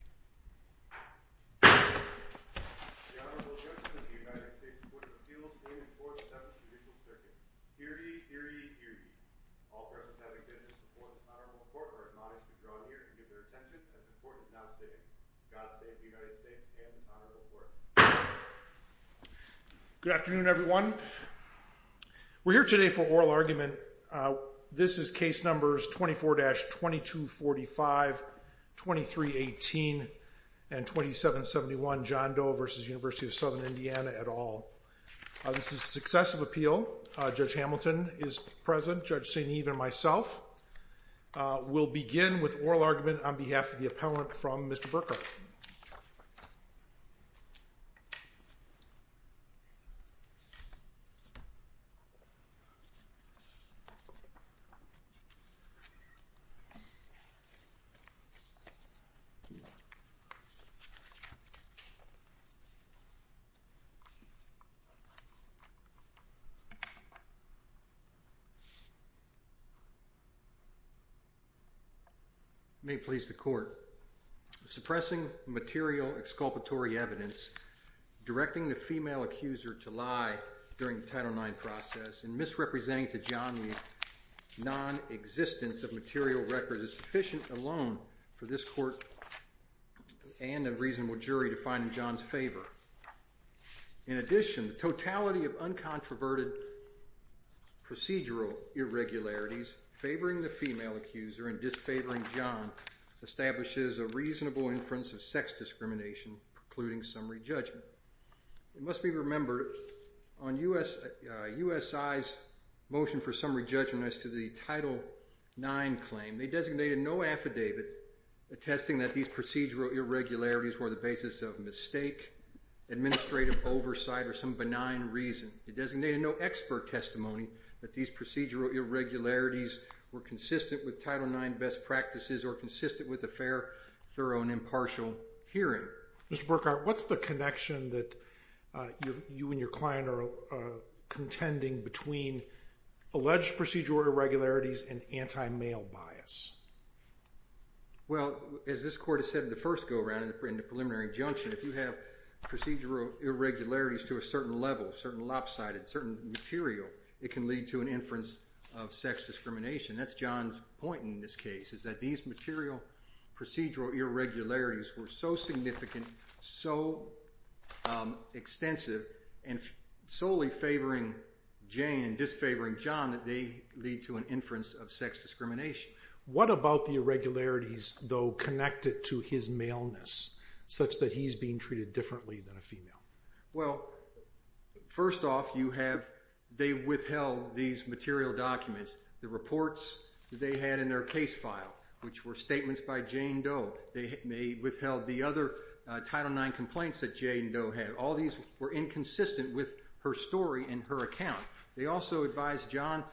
The Honorable Justice of the United States Court of Appeals in and for the 7th Judicial Circuit. Hear ye, hear ye, hear ye. All persons having business before this honorable court are admonished to draw near and give their attention as the court is now sitting. God save the United States and this honorable court. The court is now in session. May it please the court. Suppressing material exculpatory evidence, directing the female accuser to lie during the Title IX process, and misrepresenting to John Lee non-existence of material records is sufficient alone for this court to decide whether or not to proceed. And a reasonable jury to find in John's favor. In addition, the totality of uncontroverted procedural irregularities favoring the female accuser and disfavoring John establishes a reasonable inference of sex discrimination precluding summary judgment. It must be remembered, on USI's motion for summary judgment as to the Title IX claim, they designated no affidavit attesting that these procedural irregularities were the basis of mistake, administrative oversight, or some benign reason. It designated no expert testimony that these procedural irregularities were consistent with Title IX best practices or consistent with a fair, thorough, and impartial hearing. Mr. Burkhart, what's the connection that you and your client are contending between alleged procedural irregularities and anti-male bias? Well, as this court has said in the first go-around in the preliminary injunction, if you have procedural irregularities to a certain level, certain lopsided, certain material, it can lead to an inference of sex discrimination. That's John's point in this case, is that these material procedural irregularities were so significant, so extensive, and solely favoring Jane and disfavoring John that they lead to an inference of sex discrimination. What about the irregularities, though, connected to his maleness, such that he's being treated differently than a female? Well, first off, they withheld these material documents, the reports that they had in their case file, which were statements by Jane Doe. They withheld the other Title IX complaints that Jane Doe had. All these were inconsistent with her story and her account. They also advised John,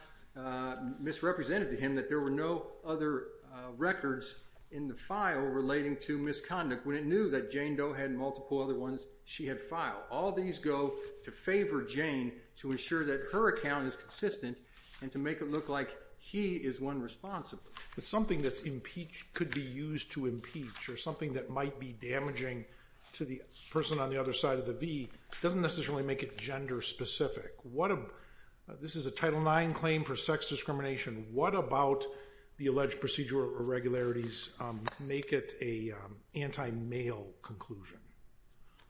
misrepresented to him, that there were no other records in the file relating to misconduct when it knew that Jane Doe had multiple other ones she had filed. All these go to favor Jane to ensure that her account is consistent and to make it look like he is one responsible. Something that's impeached could be used to impeach, or something that might be damaging to the person on the other side of the V doesn't necessarily make it gender specific. This is a Title IX claim for sex discrimination. What about the alleged procedural irregularities make it an anti-male conclusion?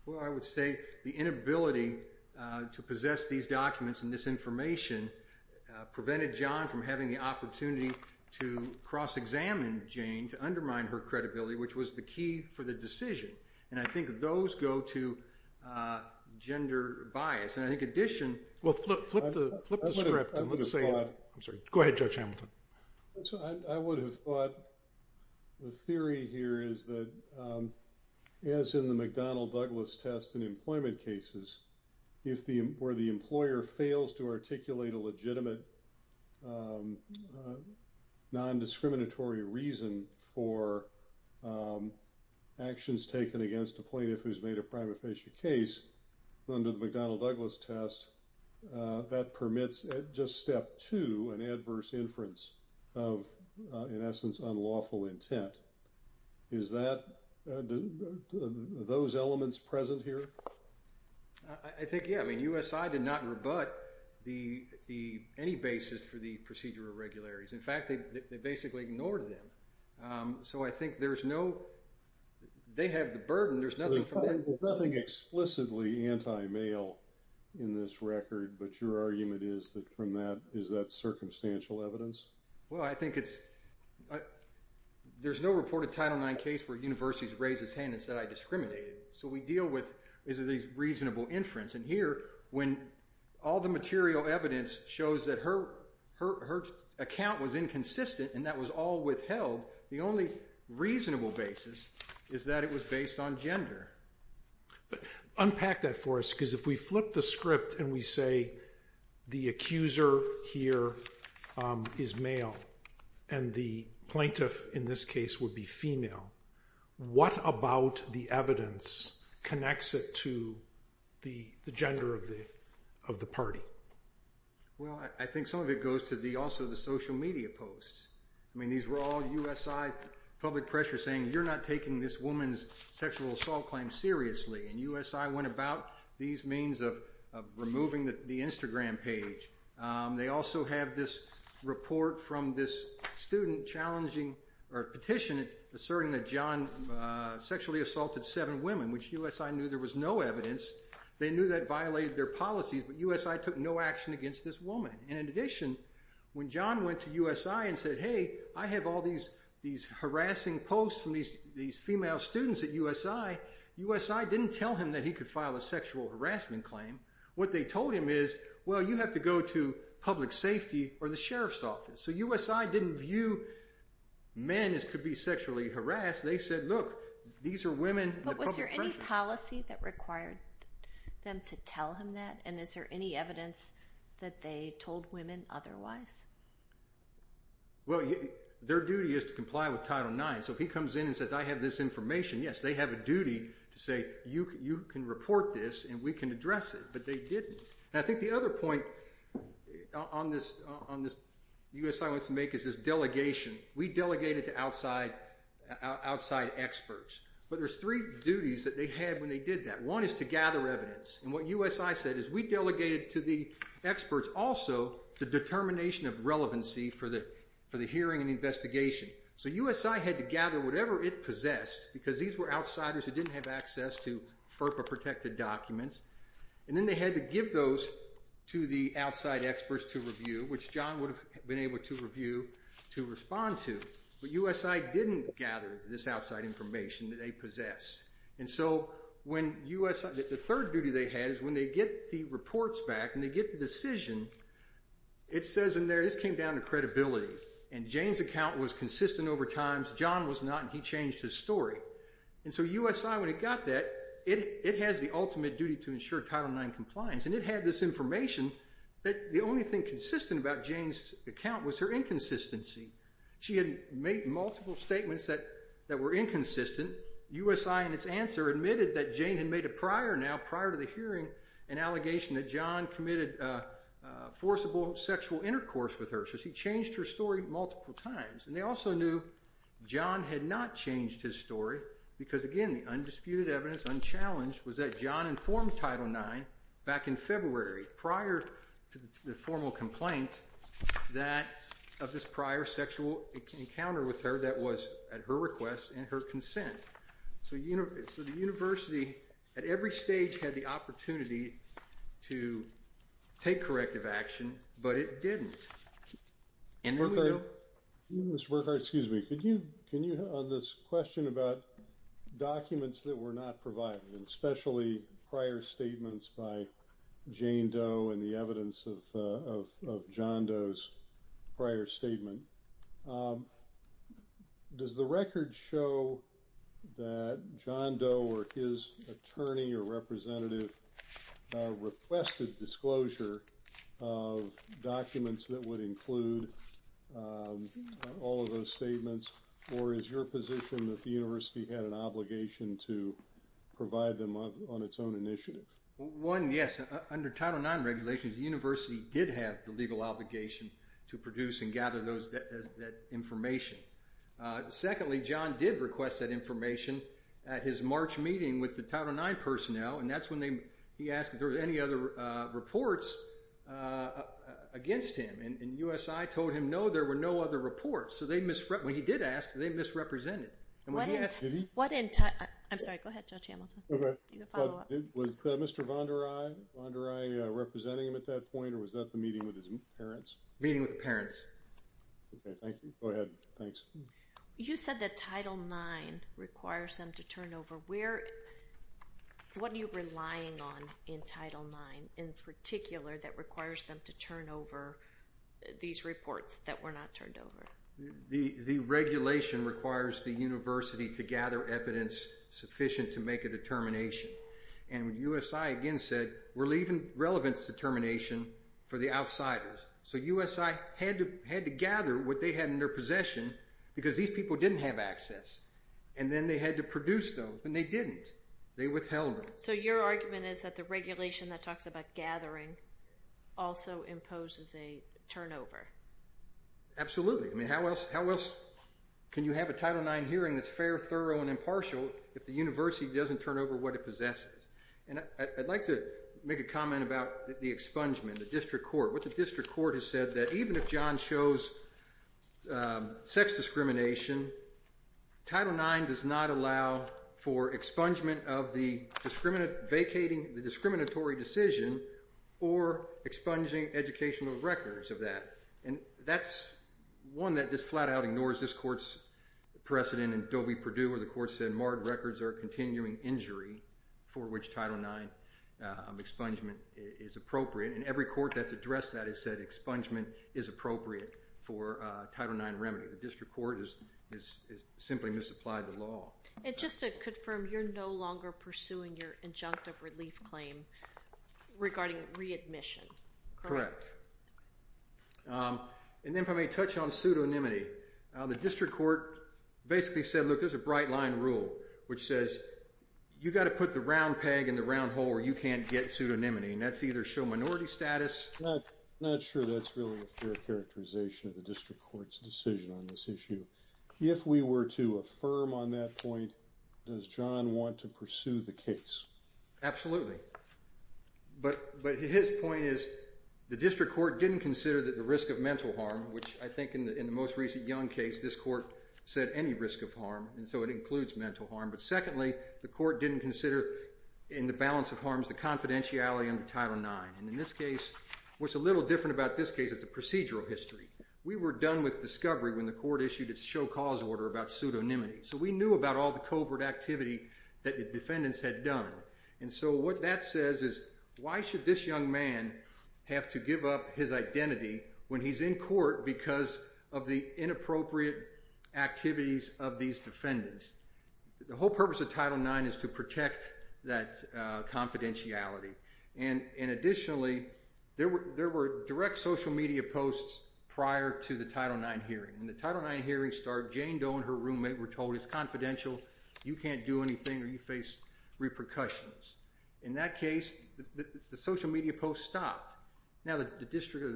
Well, I would say the inability to possess these documents and this information prevented John from having the opportunity to cross-examine Jane, to undermine her credibility, which was the key for the decision. And I think those go to gender bias. And I think in addition... Well, flip the script. I'm sorry. Go ahead, Judge Hamilton. I would have thought the theory here is that, as in the McDonnell-Douglas test in employment cases, where the employer fails to articulate a legitimate non-discriminatory reason for actions taken against a plaintiff who's made a prima facie case, under the McDonnell-Douglas test, that permits, at just step two, an adverse inference of, in essence, unlawful intent. Is those elements present here? I think, yeah. I mean, USI did not rebut any basis for the procedural irregularities. In fact, they basically ignored them. So I think there's no... They have the burden. There's nothing from them. But your argument is that from that, is that circumstantial evidence? Well, I think it's... There's no reported Title IX case where a university's raised its hand and said, I discriminated. So we deal with, is it a reasonable inference? And here, when all the material evidence shows that her account was inconsistent and that was all withheld, the only reasonable basis is that it was based on gender. But unpack that for us, because if we flip the script and we say the accuser here is male and the plaintiff, in this case, would be female, what about the evidence connects it to the gender of the party? Well, I think some of it goes to also the social media posts. I mean, these were all USI public pressure saying, you're not taking this woman's sexual assault claim seriously. And USI went about these means of removing the Instagram page. They also have this report from this student challenging, or petition, asserting that John sexually assaulted seven women, which USI knew there was no evidence. They knew that violated their policies, but USI took no action against this woman. And in addition, when John went to USI and said, hey, I have all these harassing posts from these female students at USI, USI didn't tell him that he could file a sexual harassment claim. What they told him is, well, you have to go to public safety or the sheriff's office. So USI didn't view men as could be sexually harassed. They said, look, these are women. But was there any policy that required them to tell him that? And is there any evidence that they told women otherwise? Well, their duty is to comply with Title IX. So if he comes in and says, I have this information, yes, they have a duty to say, you can report this and we can address it. But they didn't. And I think the other point on this USI wants to make is this delegation. We delegated to outside experts. But there's three duties that they had when they did that. One is to gather evidence. And what USI said is, we delegated to the experts also the determination of relevancy for the hearing and investigation. So USI had to gather whatever it possessed, because these were outsiders who didn't have access to FERPA-protected documents. And then they had to give those to the outside experts to review, which John would have been able to review to respond to. But USI didn't gather this outside information that they possessed. And so the third duty they had is when they get the reports back and they get the decision, it says in there, this came down to credibility. And Jane's account was consistent over time. John was not, and he changed his story. And so USI, when it got that, it has the ultimate duty to ensure Title IX compliance. And it had this information that the only thing consistent about Jane's account was her inconsistency. She had made multiple statements that were inconsistent. USI, in its answer, admitted that Jane had made a prior now, prior to the hearing, an allegation that John committed forcible sexual intercourse with her. So she changed her story multiple times. And they also knew John had not changed his story, because again, the undisputed evidence, unchallenged, was that John informed Title IX back in February, prior to the formal complaint, that of this prior sexual encounter with her that was at her request and her consent. So the university, at every stage, had the opportunity to take corrective action, but it didn't. And then we know... Mr. Burkhart, excuse me, can you, on this question about documents that were not provided, and especially prior statements by Jane Doe and the evidence of John Doe's prior statement, does the record show that John Doe or his attorney or representative requested disclosure of documents that would include all of those statements, or is your position that the university had an obligation to provide them on its own initiative? One, yes. Under Title IX regulations, the university did have the legal obligation to produce and gather that information. Secondly, John did request that information at his March meeting with the Title IX personnel, and that's when he asked if there were any other reports against him. And USI told him, no, there were no other reports. So when he did ask, they misrepresented. Did he? I'm sorry, go ahead, Judge Hamilton. Was Mr. VonderEye representing him at that point, or was that the meeting with his parents? Meeting with the parents. Okay, thank you. Go ahead, thanks. You said that Title IX requires them to turn over. What are you relying on in Title IX in particular that requires them to turn over these reports that were not turned over? The regulation requires the university to gather evidence sufficient to make a determination. And USI again said, we're leaving relevance determination for the outsiders. So USI had to gather what they had in their possession because these people didn't have access, and then they had to produce those, and they didn't. They withheld them. So your argument is that the regulation that talks about gathering also imposes a turnover? Absolutely. I mean, how else can you have a Title IX hearing that's fair, thorough, and impartial if the university doesn't turn over what it possesses? And I'd like to make a comment about the expungement, the district court. What the district court has said is that even if John shows sex discrimination, Title IX does not allow for expungement of the discriminatory decision or expunging educational records of that. And that's one that just flat out ignores this court's precedent in Dobey-Purdue, where the court said marred records are a continuing injury for which Title IX expungement is appropriate. And every court that's addressed that has said expungement is appropriate for Title IX remedy. The district court has simply misapplied the law. And just to confirm, you're no longer pursuing your injunctive relief claim regarding readmission, correct? Correct. And then if I may touch on pseudonymity, the district court basically said, look, there's a bright-line rule, which says you've got to put the round peg in the round hole or you can't get pseudonymity, and that's either show minority status. I'm not sure that's really a fair characterization of the district court's decision on this issue. If we were to affirm on that point, does John want to pursue the case? Absolutely. But his point is the district court didn't consider the risk of mental harm, which I think in the most recent Young case, this court said any risk of harm, and so it includes mental harm. But secondly, the court didn't consider in the balance of harms the confidentiality under Title IX. And in this case, what's a little different about this case is the procedural history. We were done with discovery when the court issued its show cause order about pseudonymity. So we knew about all the covert activity that the defendants had done. And so what that says is why should this young man have to give up his identity when he's in court because of the inappropriate activities of these defendants? The whole purpose of Title IX is to protect that confidentiality. And additionally, there were direct social media posts prior to the Title IX hearing. In the Title IX hearing, Jane Doe and her roommate were told it's confidential. You can't do anything or you face repercussions. In that case, the social media posts stopped. Now the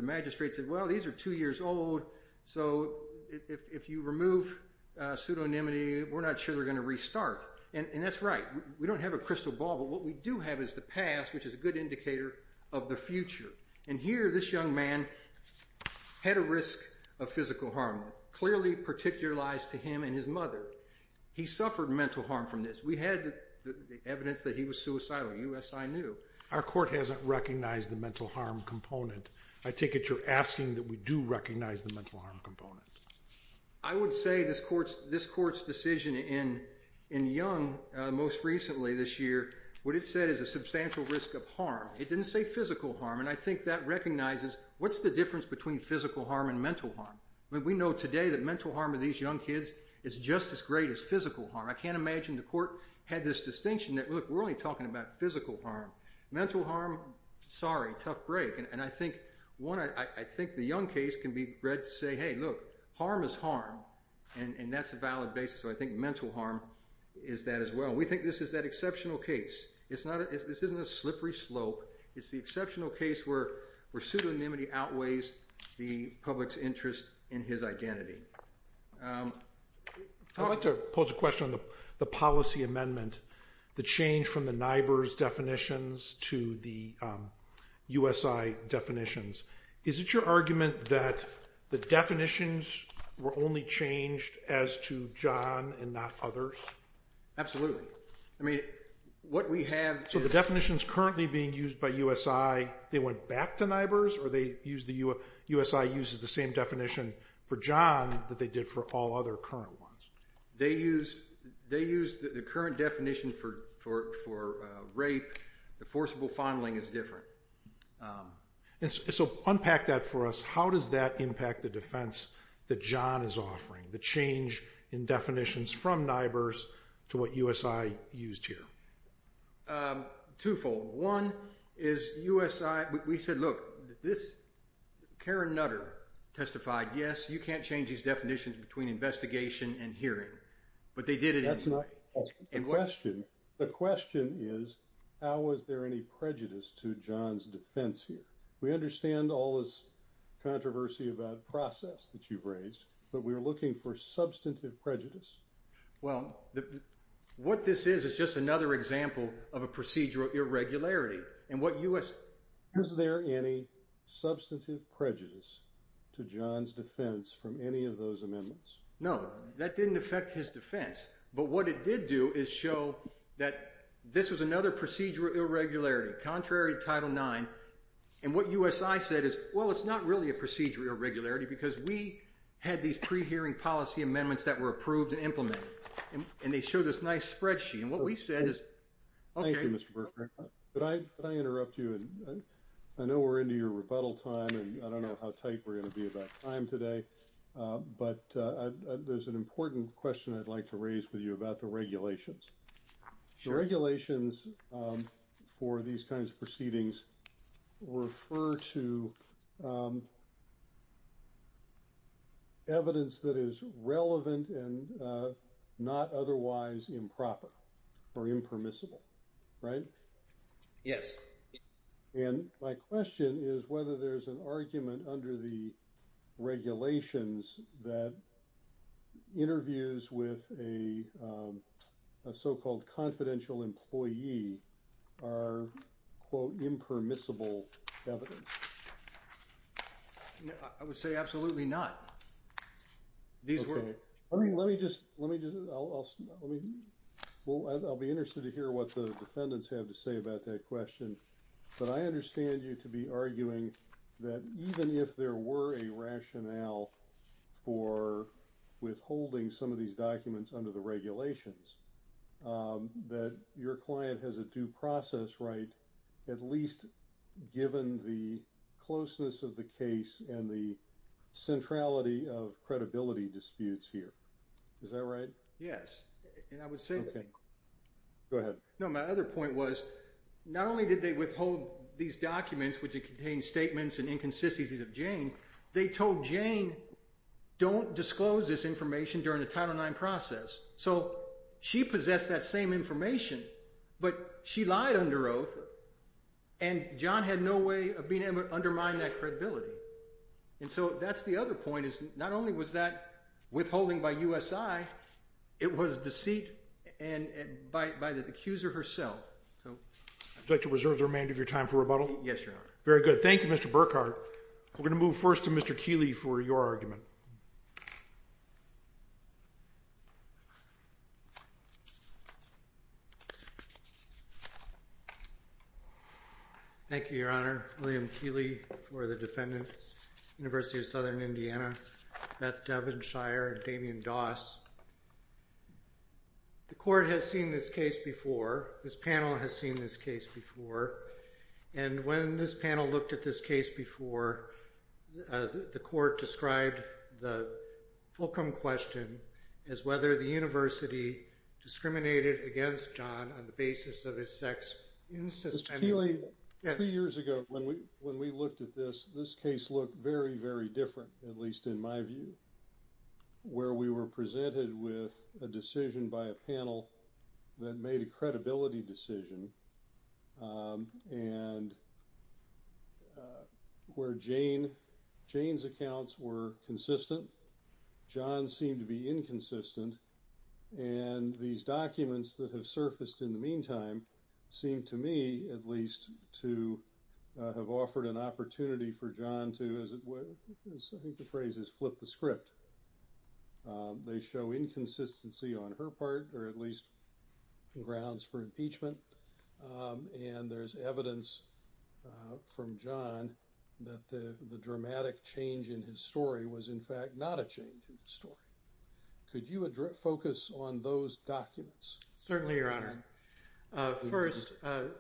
magistrate said, well, these are two years old, so if you remove pseudonymity, we're not sure they're going to restart. And that's right. We don't have a crystal ball, but what we do have is the past, which is a good indicator of the future. And here this young man had a risk of physical harm, clearly particularized to him and his mother. He suffered mental harm from this. We had the evidence that he was suicidal. You, as I knew. Our court hasn't recognized the mental harm component. I take it you're asking that we do recognize the mental harm component. I would say this court's decision in Young most recently this year, what it said is a substantial risk of harm. It didn't say physical harm, and I think that recognizes what's the difference between physical harm and mental harm. We know today that mental harm of these young kids is just as great as physical harm. I can't imagine the court had this distinction that, look, we're only talking about physical harm. Mental harm, sorry, tough break. And I think, one, I think the Young case can be read to say, hey, look, harm is harm, and that's a valid basis. So I think mental harm is that as well. We think this is that exceptional case. This isn't a slippery slope. It's the exceptional case where pseudonymity outweighs the public's interest in his identity. I'd like to pose a question on the policy amendment, the change from the NIBRS definitions to the USI definitions. Is it your argument that the definitions were only changed as to John and not others? Absolutely. I mean, what we have is... So the definitions currently being used by USI, they went back to NIBRS, or USI uses the same definition for John that they did for all other current ones? They use the current definition for rape. The forcible fondling is different. So unpack that for us. How does that impact the defense that John is offering, the change in definitions from NIBRS to what USI used here? Twofold. One is USI... We said, look, this... Karen Nutter testified, yes, you can't change these definitions between investigation and hearing. But they did it anyway. That's not the question. The question is, how is there any prejudice to John's defense here? We understand all this controversy about process that you've raised, but we're looking for substantive prejudice. Well, what this is is just another example of a procedural irregularity. And what USI... Is there any substantive prejudice to John's defense from any of those amendments? No, that didn't affect his defense. But what it did do is show that this was another procedural irregularity, contrary to Title IX. And what USI said is, well, it's not really a procedural irregularity because we had these pre-hearing policy amendments that were approved and implemented. And they showed this nice spreadsheet. And what we said is... Thank you, Mr. Berkman. Could I interrupt you? I know we're into your rebuttal time, and I don't know how tight we're going to be about time today. But there's an important question I'd like to raise with you about the regulations. The regulations for these kinds of proceedings refer to evidence that is relevant and not otherwise improper or impermissible, right? Yes. And my question is whether there's an argument under the regulations that interviews with a so-called confidential employee are, quote, impermissible evidence. I would say absolutely not. These were... Let me just... I'll be interested to hear what the defendants have to say about that question. But I understand you to be arguing that even if there were a rationale for withholding some of these documents under the regulations, that your client has a due process right, at least given the closeness of the case and the centrality of credibility disputes here. Is that right? Yes. And I would say... Okay. Go ahead. No, my other point was not only did they withhold these documents, which contained statements and inconsistencies of Jane, they told Jane, don't disclose this information during the Title IX process. So she possessed that same information, but she lied under oath, and John had no way of being able to undermine that credibility. And so that's the other point is not only was that withholding by USI, it was deceit by the accuser herself. I'd like to reserve the remainder of your time for rebuttal. Yes, Your Honor. Very good. Thank you, Mr. Burkhart. We're going to move first to Mr. Keeley for your argument. Thank you, Your Honor. William Keeley for the defendants, University of Southern Indiana, Beth Devinshire and Damian Doss. The court has seen this case before. This panel has seen this case before. And when this panel looked at this case before, the court described the fulcrum question as whether the university discriminated against John on the basis of his sex. Mr. Keeley, a few years ago when we looked at this, this case looked very, very different, at least in my view, where we were presented with a decision by a panel that made a credibility decision. And where Jane, Jane's accounts were consistent, John seemed to be inconsistent. And these documents that have surfaced in the meantime seem to me at least to have offered an opportunity for John to flip the script. They show inconsistency on her part, or at least grounds for impeachment. And there's evidence from John that the dramatic change in his story was in fact not a change in the story. Could you focus on those documents? Certainly, Your Honor. First, how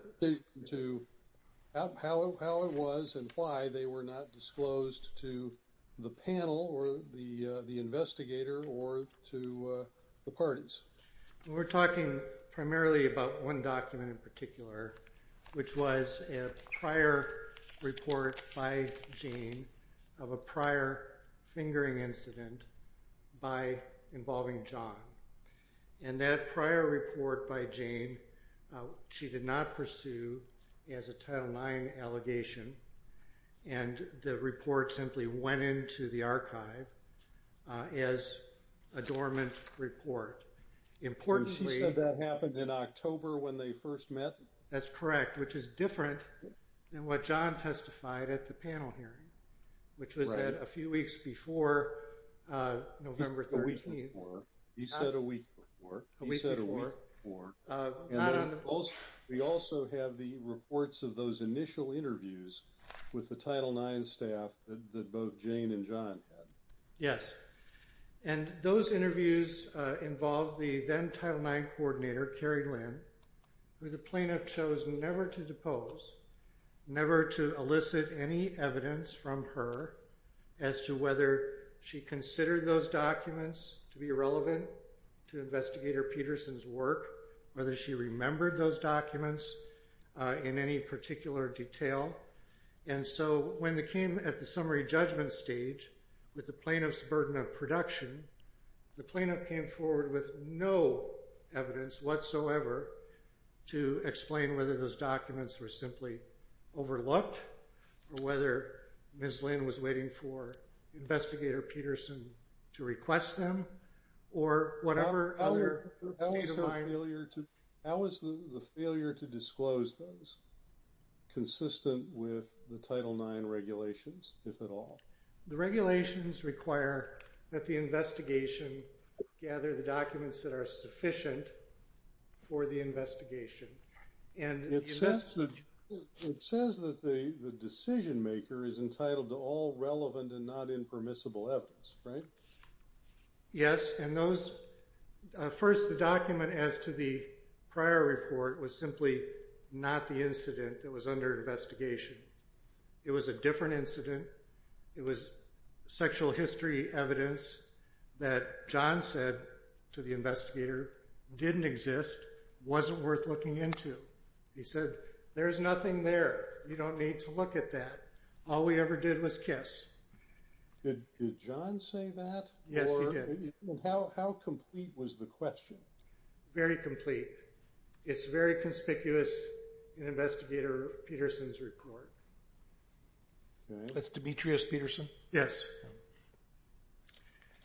it was and why they were not disclosed to the panel or the investigator or to the parties. We're talking primarily about one document in particular, which was a prior report by Jane of a prior fingering incident by involving John. And that prior report by Jane, she did not pursue as a Title IX allegation. And the report simply went into the archive as a dormant report. Importantly... You said that happened in October when they first met? That's correct, which is different than what John testified at the panel hearing, which was a few weeks before November 13th. Not a week before. You said a week before. A week before. And we also have the reports of those initial interviews with the Title IX staff that both Jane and John had. Yes. And those interviews involved the then-Title IX coordinator, Carrie Lynn, who the plaintiff chose never to depose, never to elicit any evidence from her as to whether she considered those documents to be relevant to Investigator Peterson's work, whether she remembered those documents in any particular detail. And so when they came at the summary judgment stage with the plaintiff's burden of production, the plaintiff came forward with no evidence whatsoever to explain whether those documents were simply overlooked or whether Ms. Lynn was waiting for Investigator Peterson to request them or whatever other state of mind... How is the failure to disclose those consistent with the Title IX regulations, if at all? The regulations require that the investigation gather the documents that are sufficient for the investigation. It says that the decision-maker is entitled to all relevant and not impermissible evidence, right? Yes. First, the document as to the prior report was simply not the incident that was under investigation. It was a different incident. It was sexual history evidence that John said to the investigator didn't exist, wasn't worth looking into. He said, there's nothing there. You don't need to look at that. All we ever did was kiss. Did John say that? Yes, he did. How complete was the question? Very complete. It's very conspicuous in Investigator Peterson's report. That's Demetrius Peterson? Yes.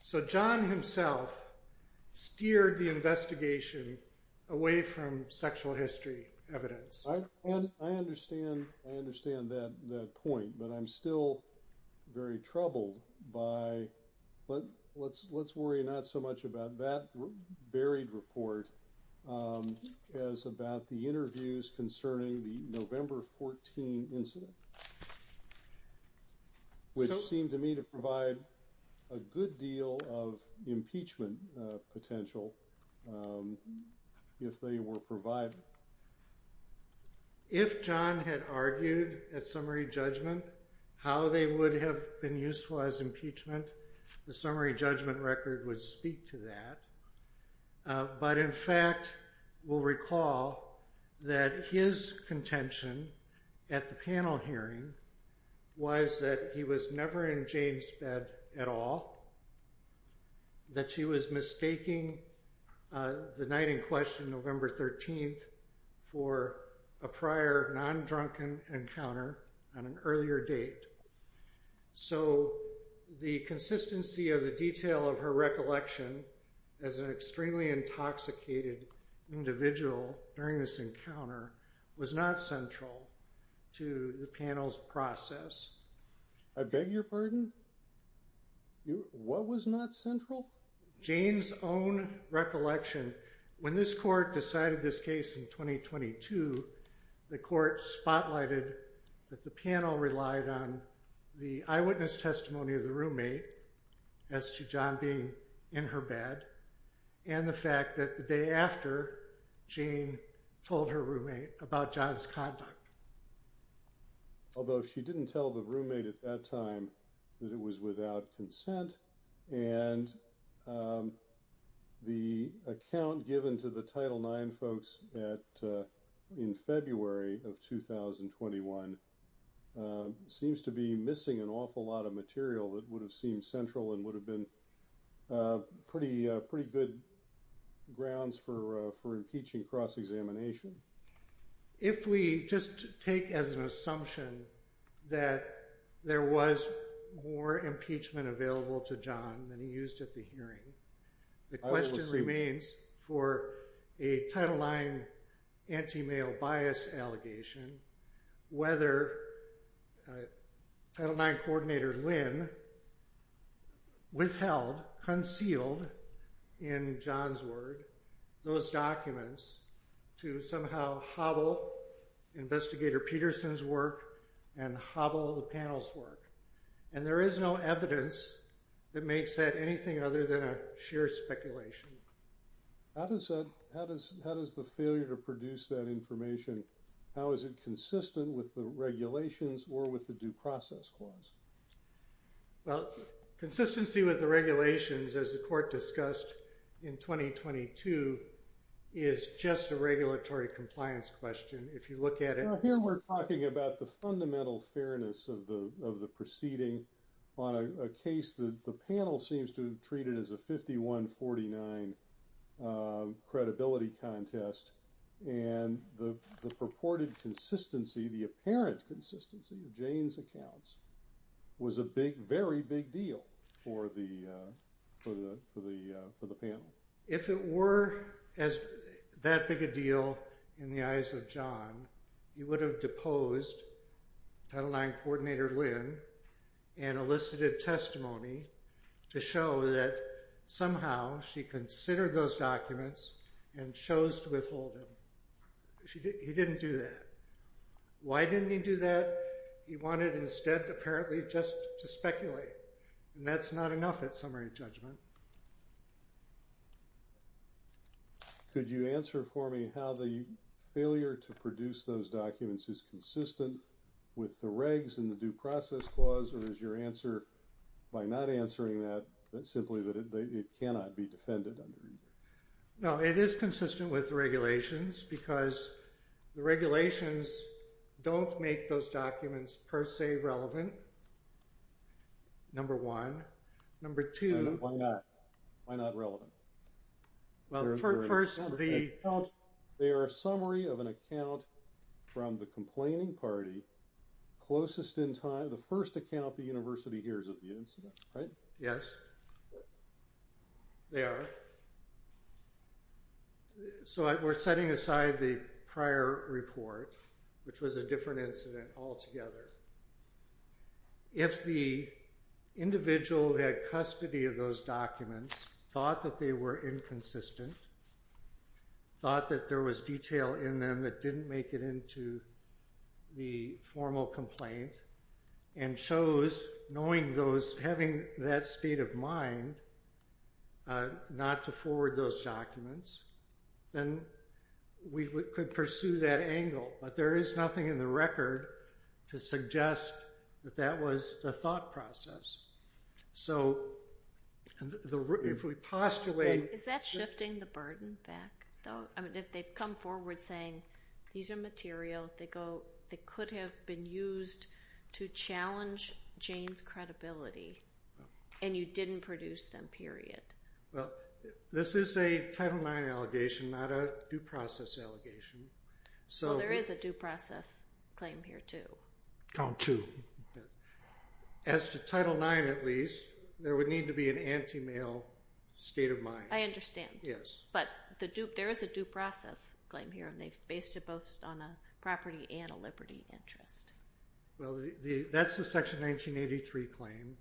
So John himself steered the investigation away from sexual history evidence. I understand that point, but I'm still very troubled by... But let's worry not so much about that buried report as about the interviews concerning the November 14 incident, which seemed to me to provide a good deal of impeachment potential, if they were provided. If John had argued at summary judgment how they would have been useful as impeachment, the summary judgment record would speak to that. But in fact, we'll recall that his contention at the panel hearing was that he was never in Jane's bed at all, that she was mistaking the night in question, November 13, for a prior non-drunken encounter on an earlier date. So the consistency of the detail of her recollection as an extremely intoxicated individual during this encounter was not central to the panel's process. I beg your pardon? What was not central? Jane's own recollection. When this court decided this case in 2022, the court spotlighted that the panel relied on the eyewitness testimony of the roommate as to John being in her bed, and the fact that the day after, Jane told her roommate about John's conduct. Although she didn't tell the roommate at that time that it was without consent, and the account given to the Title IX folks in February of 2021 seems to be missing an awful lot of material that would have seemed central and would have been pretty good grounds for impeaching cross-examination. If we just take as an assumption that there was more impeachment available to John than he used at the hearing, the question remains for a Title IX anti-male bias allegation, whether Title IX Coordinator Lynn withheld, concealed in John's word, those documents to somehow hobble Investigator Peterson's work and hobble the panel's work. And there is no evidence that makes that anything other than a sheer speculation. How does the failure to produce that information, how is it consistent with the regulations or with the due process clause? Well, consistency with the regulations, as the court discussed in 2022, is just a regulatory compliance question. If you look at it… Here we're talking about the fundamental fairness of the proceeding on a case that the panel seems to have treated as a 51-49 credibility contest and the purported consistency, the apparent consistency of Jane's accounts was a big, very big deal for the panel. If it were that big a deal in the eyes of John, he would have deposed Title IX Coordinator Lynn and elicited testimony to show that somehow she considered those documents and chose to withhold them. He didn't do that. Why didn't he do that? He wanted instead, apparently, just to speculate. And that's not enough at summary judgment. Could you answer for me how the failure to produce those documents is consistent with the regs and the due process clause or is your answer, by not answering that, simply that it cannot be defended under either? No, it is consistent with the regulations because the regulations don't make those documents per se relevant, number one. Number two… Why not? Why not relevant? Well, first the… They are a summary of an account from the complaining party closest in time, the first account the university hears of the incident, right? Yes, they are. So we're setting aside the prior report, which was a different incident altogether. If the individual who had custody of those documents thought that they were inconsistent, thought that there was detail in them that didn't make it into the formal complaint and chose, knowing those, having that state of mind, not to forward those documents, then we could pursue that angle. But there is nothing in the record to suggest that that was the thought process. So if we postulate… Is that shifting the burden back, though? I mean, if they've come forward saying, these are material that could have been used to challenge Jane's credibility and you didn't produce them, period. Well, this is a Title IX allegation, not a due process allegation. Well, there is a due process claim here, too. Count two. As to Title IX, at least, there would need to be an anti-mail state of mind. I understand. Yes. But there is a due process claim here, and they've based it both on a property and a liberty interest. Well, that's the Section 1983 claim,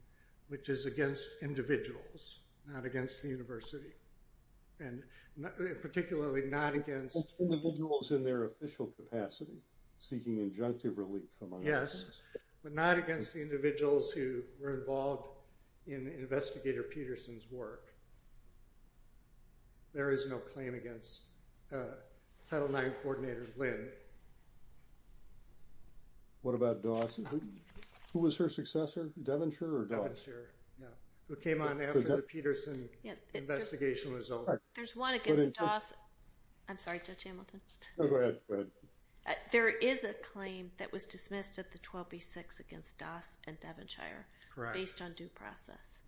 which is against individuals, not against the university, and particularly not against… Against individuals in their official capacity, seeking injunctive relief from… Yes, but not against the individuals who were involved in Investigator Peterson's work. There is no claim against Title IX Coordinator Lynn. What about Doss? Who was her successor, Devonshire or Doss? Devonshire, yeah, who came on after the Peterson investigation was over. There's one against Doss. I'm sorry, Judge Hamilton. Go ahead. There is a claim that was dismissed at the 12B6 against Doss and Devonshire, based on due process.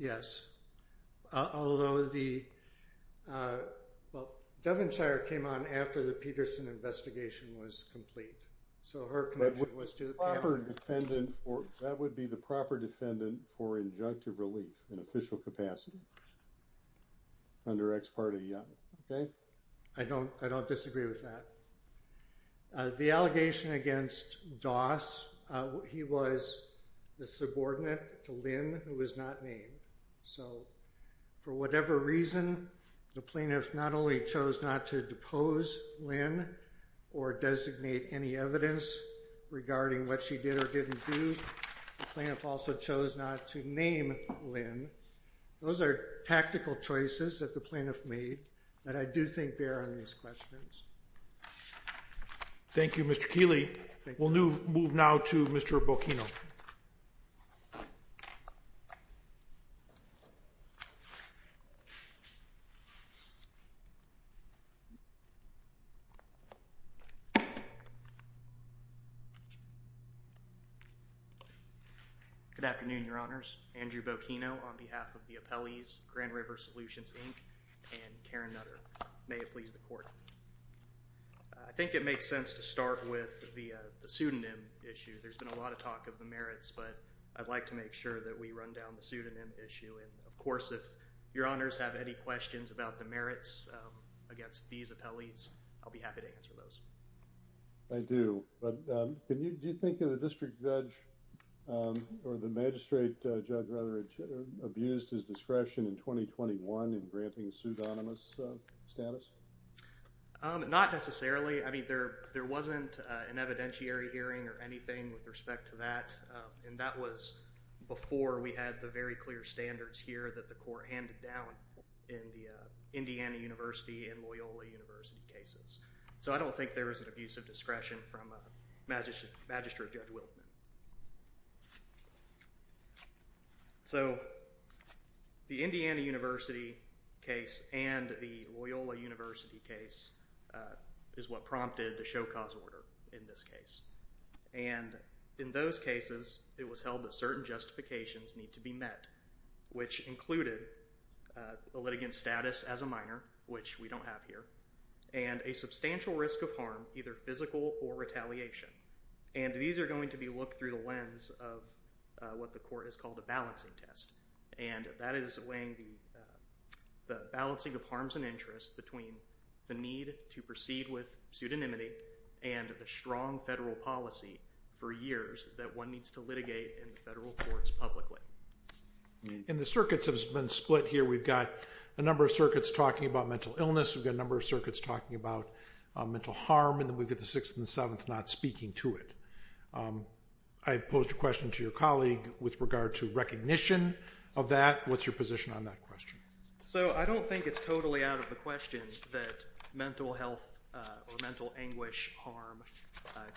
Although the… Well, Devonshire came on after the Peterson investigation was complete, so her connection was to the panel. That would be the proper defendant for injunctive relief in official capacity under ex parte, yeah. I don't disagree with that. The allegation against Doss, he was the subordinate to Lynn who was not named. So for whatever reason, the plaintiff not only chose not to depose Lynn or designate any evidence regarding what she did or didn't do, the plaintiff also chose not to name Lynn. Those are tactical choices that the plaintiff made that I do think bear on these questions. Thank you, Mr. Keeley. We'll move now to Mr. Bocchino. Good afternoon, Your Honors. Andrew Bocchino on behalf of the appellees, Grand River Solutions, Inc., and Karen Nutter. May it please the Court. I think it makes sense to start with the pseudonym issue. There's been a lot of talk of the merits, but I'd like to make sure that we run down the pseudonym issue. Of course, if Your Honors have any questions about the merits against these appellees, I'll be happy to answer those. I do, but do you think the district judge or the magistrate judge rather abused his discretion in 2021 in granting pseudonymous status? Not necessarily. I mean, there wasn't an evidentiary hearing or anything with respect to that, and that was before we had the very clear standards here that the Court handed down in the Indiana University and Loyola University cases. So I don't think there was an abuse of discretion from Magistrate Judge Wiltman. So the Indiana University case and the Loyola University case is what prompted the show-cause order in this case. And in those cases, it was held that certain justifications need to be met, which included a litigant's status as a minor, which we don't have here, and a substantial risk of harm, either physical or retaliation. And these are going to be looked through the lens of what the Court has called a balancing test, and that is weighing the balancing of harms and interests between the need to proceed with pseudonymity and the strong federal policy for years that one needs to litigate in the federal courts publicly. And the circuits have been split here. We've got a number of circuits talking about mental illness. We've got a number of circuits talking about mental harm. And then we've got the Sixth and the Seventh not speaking to it. I posed a question to your colleague with regard to recognition of that. What's your position on that question? So I don't think it's totally out of the question that mental health or mental anguish harm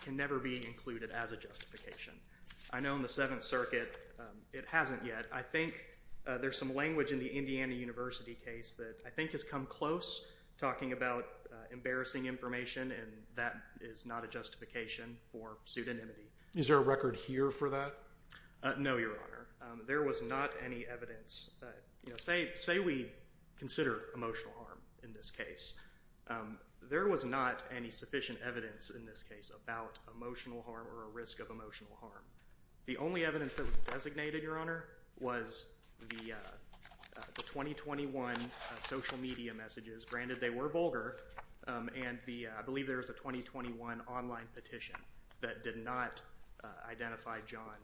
can never be included as a justification. I know in the Seventh Circuit it hasn't yet. I think there's some language in the Indiana University case that I think has come close, talking about embarrassing information, and that is not a justification for pseudonymity. Is there a record here for that? No, Your Honor. There was not any evidence. Say we consider emotional harm in this case. There was not any sufficient evidence in this case about emotional harm or a risk of emotional harm. The only evidence that was designated, Your Honor, was the 2021 social media messages. Granted, they were vulgar, and I believe there was a 2021 online petition that did not identify John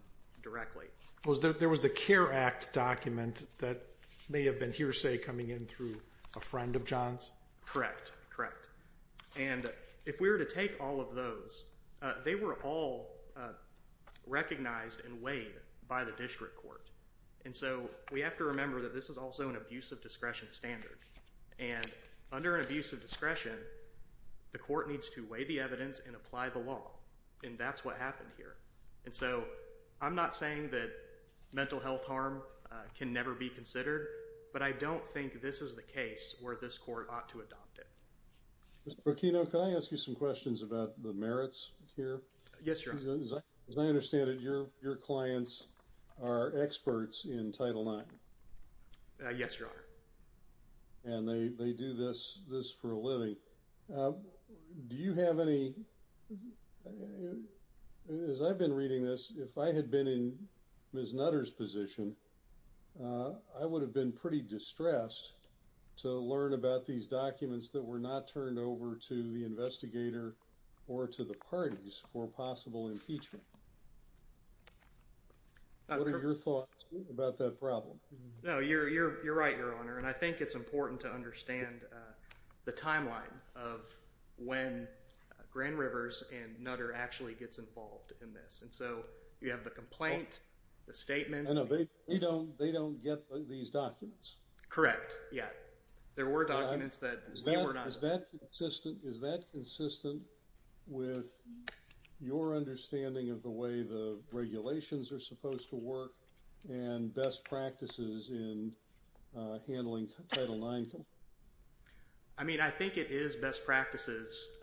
directly. There was the CARE Act document that may have been hearsay coming in through a friend of John's? Correct, correct. And if we were to take all of those, they were all recognized and weighed by the district court. And so we have to remember that this is also an abuse of discretion standard. And under an abuse of discretion, the court needs to weigh the evidence and apply the law, and that's what happened here. And so I'm not saying that mental health harm can never be considered, but I don't think this is the case where this court ought to adopt it. Mr. Burkino, can I ask you some questions about the merits here? Yes, Your Honor. As I understand it, your clients are experts in Title IX. Yes, Your Honor. And they do this for a living. Do you have any... As I've been reading this, if I had been in Ms. Nutter's position, I would have been pretty distressed to learn about these documents that were not turned over to the investigator or to the parties for possible impeachment. What are your thoughts about that problem? No, you're right, Your Honor. And I think it's important to understand the timeline of when Grand Rivers and Nutter actually gets involved in this. And so you have the complaint, the statements... No, they don't get these documents. Correct, yeah. There were documents that we were not... Is that consistent with your understanding of the way the regulations are supposed to work and best practices in handling Title IX? I mean, I think it is best practices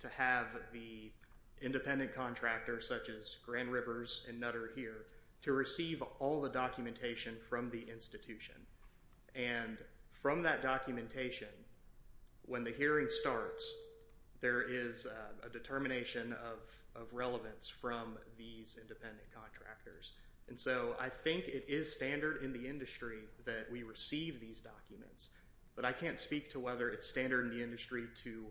to have the independent contractor, such as Grand Rivers and Nutter here, to receive all the documentation from the institution. And from that documentation, when the hearing starts, there is a determination of relevance from these independent contractors. And so I think it is standard in the industry that we receive these documents. But I can't speak to whether it's standard in the industry to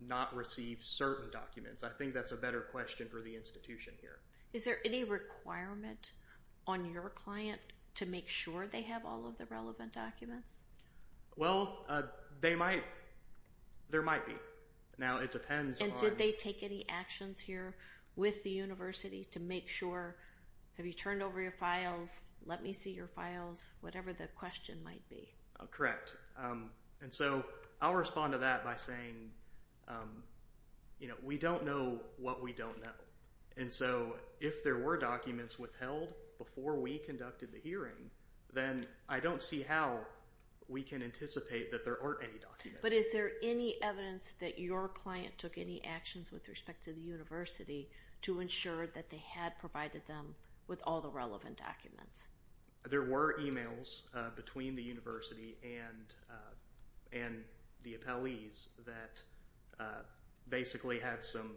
not receive certain documents. I think that's a better question for the institution here. Is there any requirement on your client to make sure they have all of the relevant documents? Well, there might be. Now, it depends on... And did they take any actions here with the university to make sure, have you turned over your files, let me see your files, whatever the question might be? Correct. And so I'll respond to that by saying, you know, we don't know what we don't know. And so if there were documents withheld before we conducted the hearing, then I don't see how we can anticipate that there aren't any documents. But is there any evidence that your client took any actions with respect to the university to ensure that they had provided them with all the relevant documents? There were emails between the university and the appellees that basically had some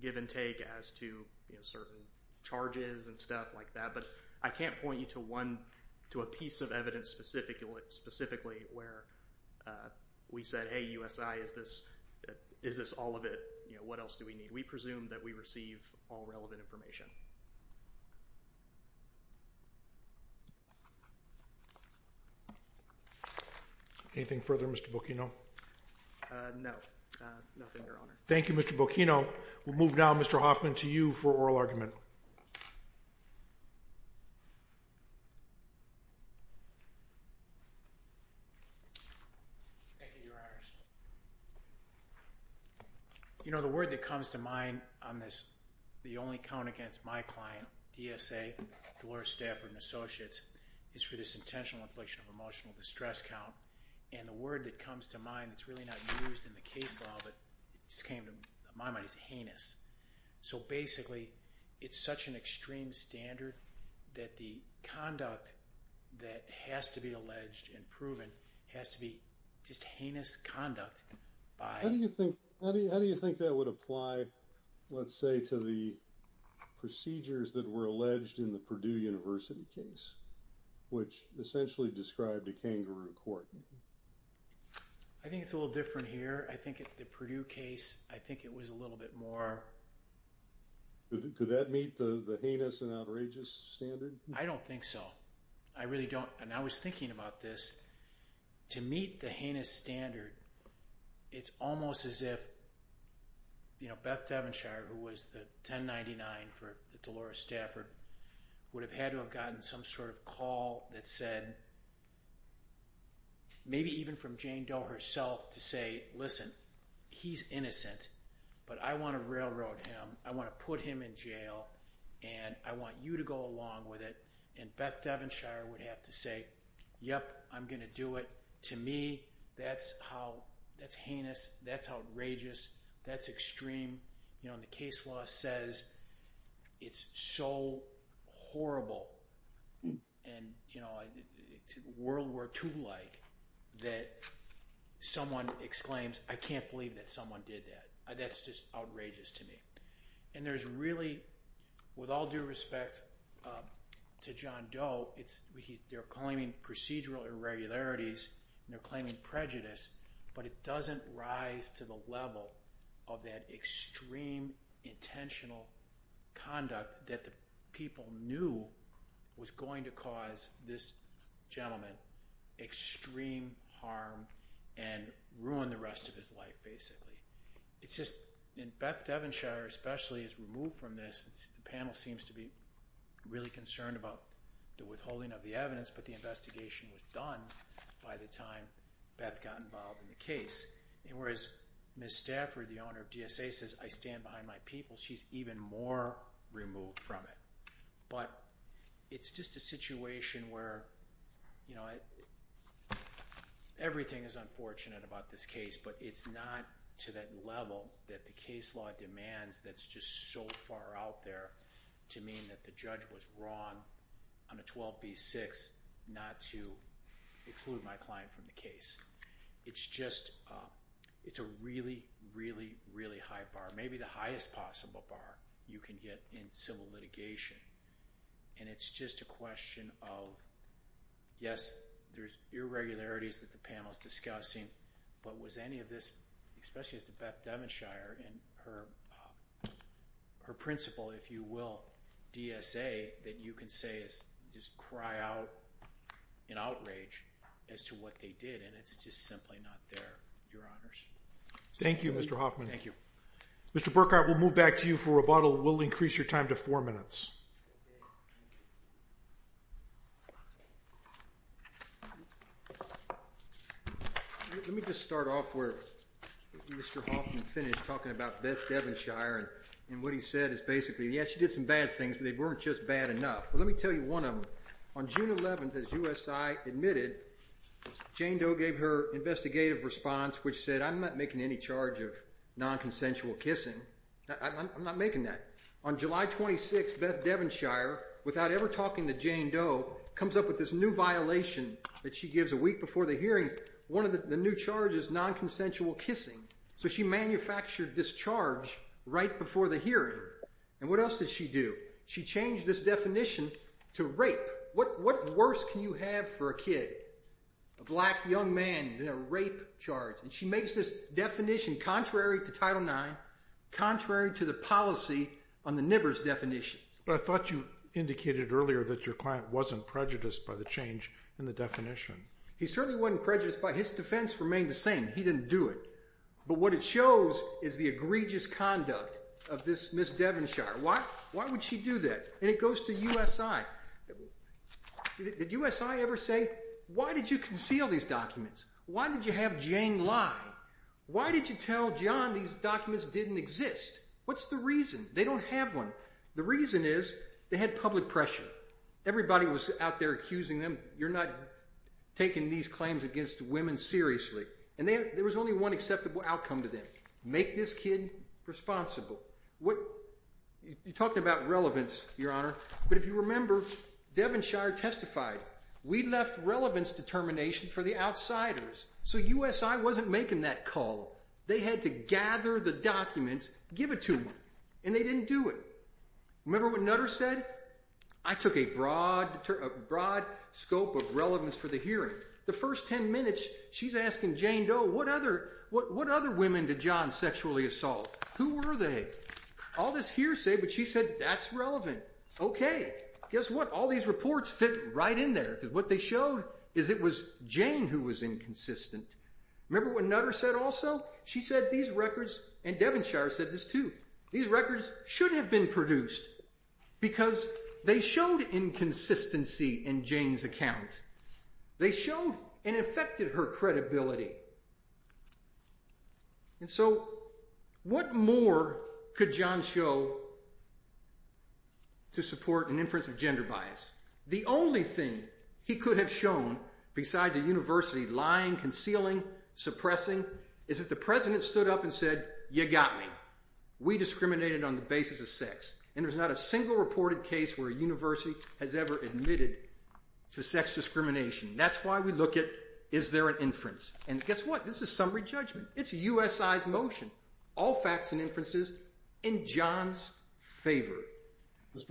give and take as to certain charges and stuff like that. But I can't point you to one, to a piece of evidence specifically where we said, hey, USI, is this all of it? You know, what else do we need? We presume that we receive all relevant information. Anything further, Mr. Bocchino? No, nothing, Your Honor. Thank you, Mr. Bocchino. We'll move now, Mr. Hoffman, to you for oral argument. Thank you, Your Honors. You know, the word that comes to mind on this, the only count against my client, DSA, Dolores Stafford & Associates, is for this intentional inflation of emotional distress count. And the word that comes to mind that's really not used in the case law, but just came to my mind, is heinous. So basically, it's such an extreme standard that the conduct that has to be alleged and proven has to be just heinous conduct by... How do you think that would apply, let's say, to the procedures that were alleged in the Purdue University case, which essentially described a kangaroo court? I think it's a little different here. I think at the Purdue case, I think it was a little bit more... Could that meet the heinous and outrageous standard? I don't think so. I really don't. And I was thinking about this. To meet the heinous standard, it's almost as if, you know, Beth Devonshire, who was the 1099 for the Dolores Stafford, would have had to have gotten some sort of call that said... Maybe even from Jane Doe herself to say, listen, he's innocent, but I want to railroad him, I want to put him in jail, and I want you to go along with it. And Beth Devonshire would have to say, yep, I'm going to do it. To me, that's how... That's heinous. That's outrageous. That's extreme. You know, the case law says it's so horrible and, you know, World War II-like that someone exclaims, I can't believe that someone did that. That's just outrageous to me. And there's really, with all due respect, to John Doe, they're claiming procedural irregularities, they're claiming prejudice, but it doesn't rise to the level of that extreme intentional conduct that the people knew was going to cause this gentleman extreme harm and ruin the rest of his life, basically. It's just... And Beth Devonshire especially is removed from this. The panel seems to be really concerned about the withholding of the evidence, but the investigation was done by the time Beth got involved in the case. And whereas Ms. Stafford, the owner of DSA, says, I stand behind my people, she's even more removed from it. But it's just a situation where, you know, everything is unfortunate about this case, but it's not to that level that the case law demands that's just so far out there to mean that the judge was wrong on a 12B6 not to exclude my client from the case. It's just... It's a really, really, really high bar. Maybe the highest possible bar you can get in civil litigation. And it's just a question of, yes, there's irregularities that the panel is discussing, but was any of this, especially as to Beth Devonshire and her principal, if you will, DSA, that you can say is just cry out in outrage as to what they did, and it's just simply not there, Your Honours. Thank you, Mr. Hoffman. Thank you. Mr. Burkhart, we'll move back to you for rebuttal. We'll increase your time to four minutes. Let me just start off where Mr. Hoffman finished talking about Beth Devonshire and what he said is basically, yes, she did some bad things, but they weren't just bad enough. Well, let me tell you one of them. On June 11, as USI admitted, Jane Doe gave her investigative response, which said, I'm not making any charge of nonconsensual kissing. I'm not making that. On July 26, Beth Devonshire, without ever talking to Jane Doe, comes up with this new violation that she gives a week before the hearing, one of the new charges, nonconsensual kissing. So she manufactured this charge right before the hearing, and what else did she do? She changed this definition to rape. What worse can you have for a kid, a black young man in a rape charge? And she makes this definition contrary to Title IX, contrary to the policy on the NIBRS definition. But I thought you indicated earlier that your client wasn't prejudiced by the change in the definition. He certainly wasn't prejudiced by it. His defense remained the same. He didn't do it. But what it shows is the egregious conduct of this Ms. Devonshire. Why would she do that? And it goes to USI. Did USI ever say, why did you conceal these documents? Why did you have Jane lie? Why did you tell John these documents didn't exist? What's the reason? They don't have one. The reason is they had public pressure. Everybody was out there accusing them, you're not taking these claims against women seriously. And there was only one acceptable outcome to them, make this kid responsible. You're talking about relevance, Your Honor. But if you remember, Devonshire testified, we left relevance determination for the outsiders. So USI wasn't making that call. They had to gather the documents, give it to them. And they didn't do it. Remember what Nutter said? I took a broad scope of relevance for the hearing. The first 10 minutes, she's asking Jane Doe, what other women did John sexually assault? Who were they? All this hearsay, but she said that's relevant. Okay, guess what? All these reports fit right in there. Because what they showed is it was Jane who was inconsistent. Remember what Nutter said also? She said these records, and Devonshire said this too, these records should have been produced because they showed inconsistency in Jane's account. They showed and affected her credibility. And so what more could John show to support an inference of gender bias? The only thing he could have shown, besides a university lying, concealing, suppressing, is that the president stood up and said, you got me. We discriminated on the basis of sex. And there's not a single reported case where a university has ever admitted to sex discrimination. That's why we look at is there an inference. And guess what? This is summary judgment. It's USI's motion. All facts and inferences in John's favor. Mr.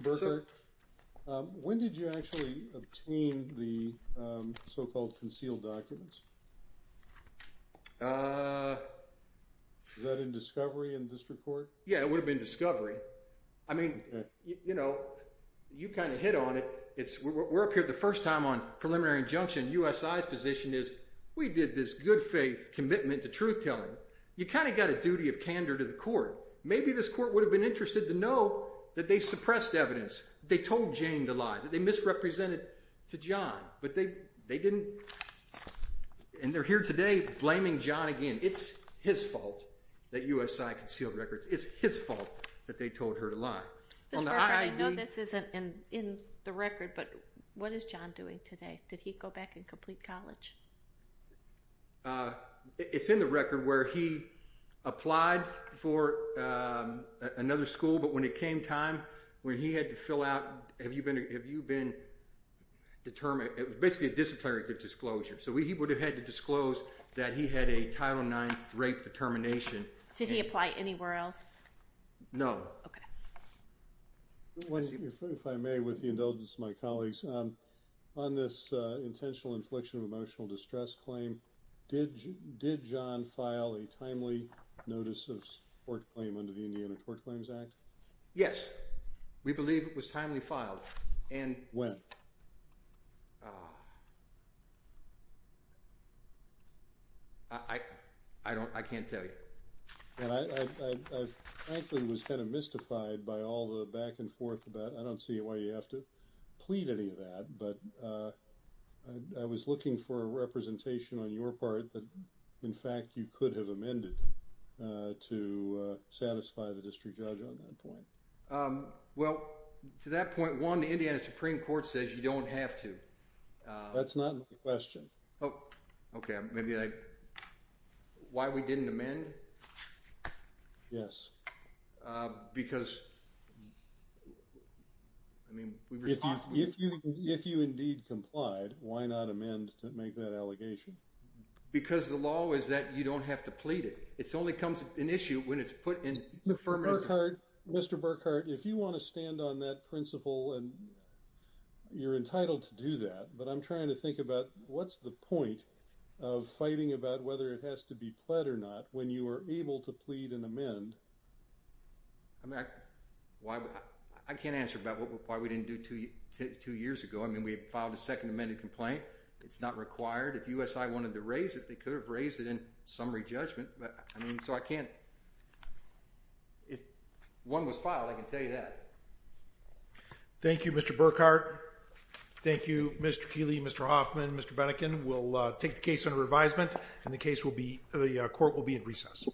Berker, when did you actually obtain the so-called concealed documents? Was that in discovery in district court? Yeah, it would have been discovery. I mean, you know, you kind of hit on it. We're up here the first time on preliminary injunction. USI's position is we did this good faith commitment to truth telling. You kind of got a duty of candor to the court. Maybe this court would have been interested to know that they suppressed evidence, they told Jane to lie, that they misrepresented to John. But they didn't. And they're here today blaming John again. It's his fault that USI concealed records. It's his fault that they told her to lie. Mr. Berker, I know this isn't in the record, but what is John doing today? Did he go back and complete college? It's in the record where he applied for another school, but when it came time, when he had to fill out, have you been determined, it was basically a disciplinary disclosure. So he would have had to disclose that he had a Title IX rape determination. Did he apply anywhere else? No. Okay. If I may, with the indulgence of my colleagues, on this intentional infliction of emotional distress claim, did John file a timely notice of court claim under the Indiana Court Claims Act? Yes. We believe it was timely filed. When? I can't tell you. I frankly was kind of mystified by all the back and forth. I don't see why you have to plead any of that, but I was looking for a representation on your part that in fact you could have amended to satisfy the district judge on that point. Well, to that point, one, the Indiana Supreme Court says you don't have to. That's not my question. Okay. Why we didn't amend? Yes. Because, I mean, we were talking. If you indeed complied, why not amend to make that allegation? Because the law is that you don't have to plead it. It only becomes an issue when it's put in affirmative. Mr. Burkhart, if you want to stand on that principle and you're entitled to do that, but I'm trying to think about what's the point of fighting about whether it has to be pled or not when you are able to plead and amend? I mean, I can't answer about why we didn't do two years ago. I mean, we filed a second amended complaint. It's not required. If USI wanted to raise it, they could have raised it in summary judgment. I mean, so I can't. If one was filed, I can tell you that. Thank you, Mr. Burkhart. Thank you, Mr. Keeley, Mr. Hoffman, Mr. Benneken. We'll take the case under revisement, and the court will be at recess.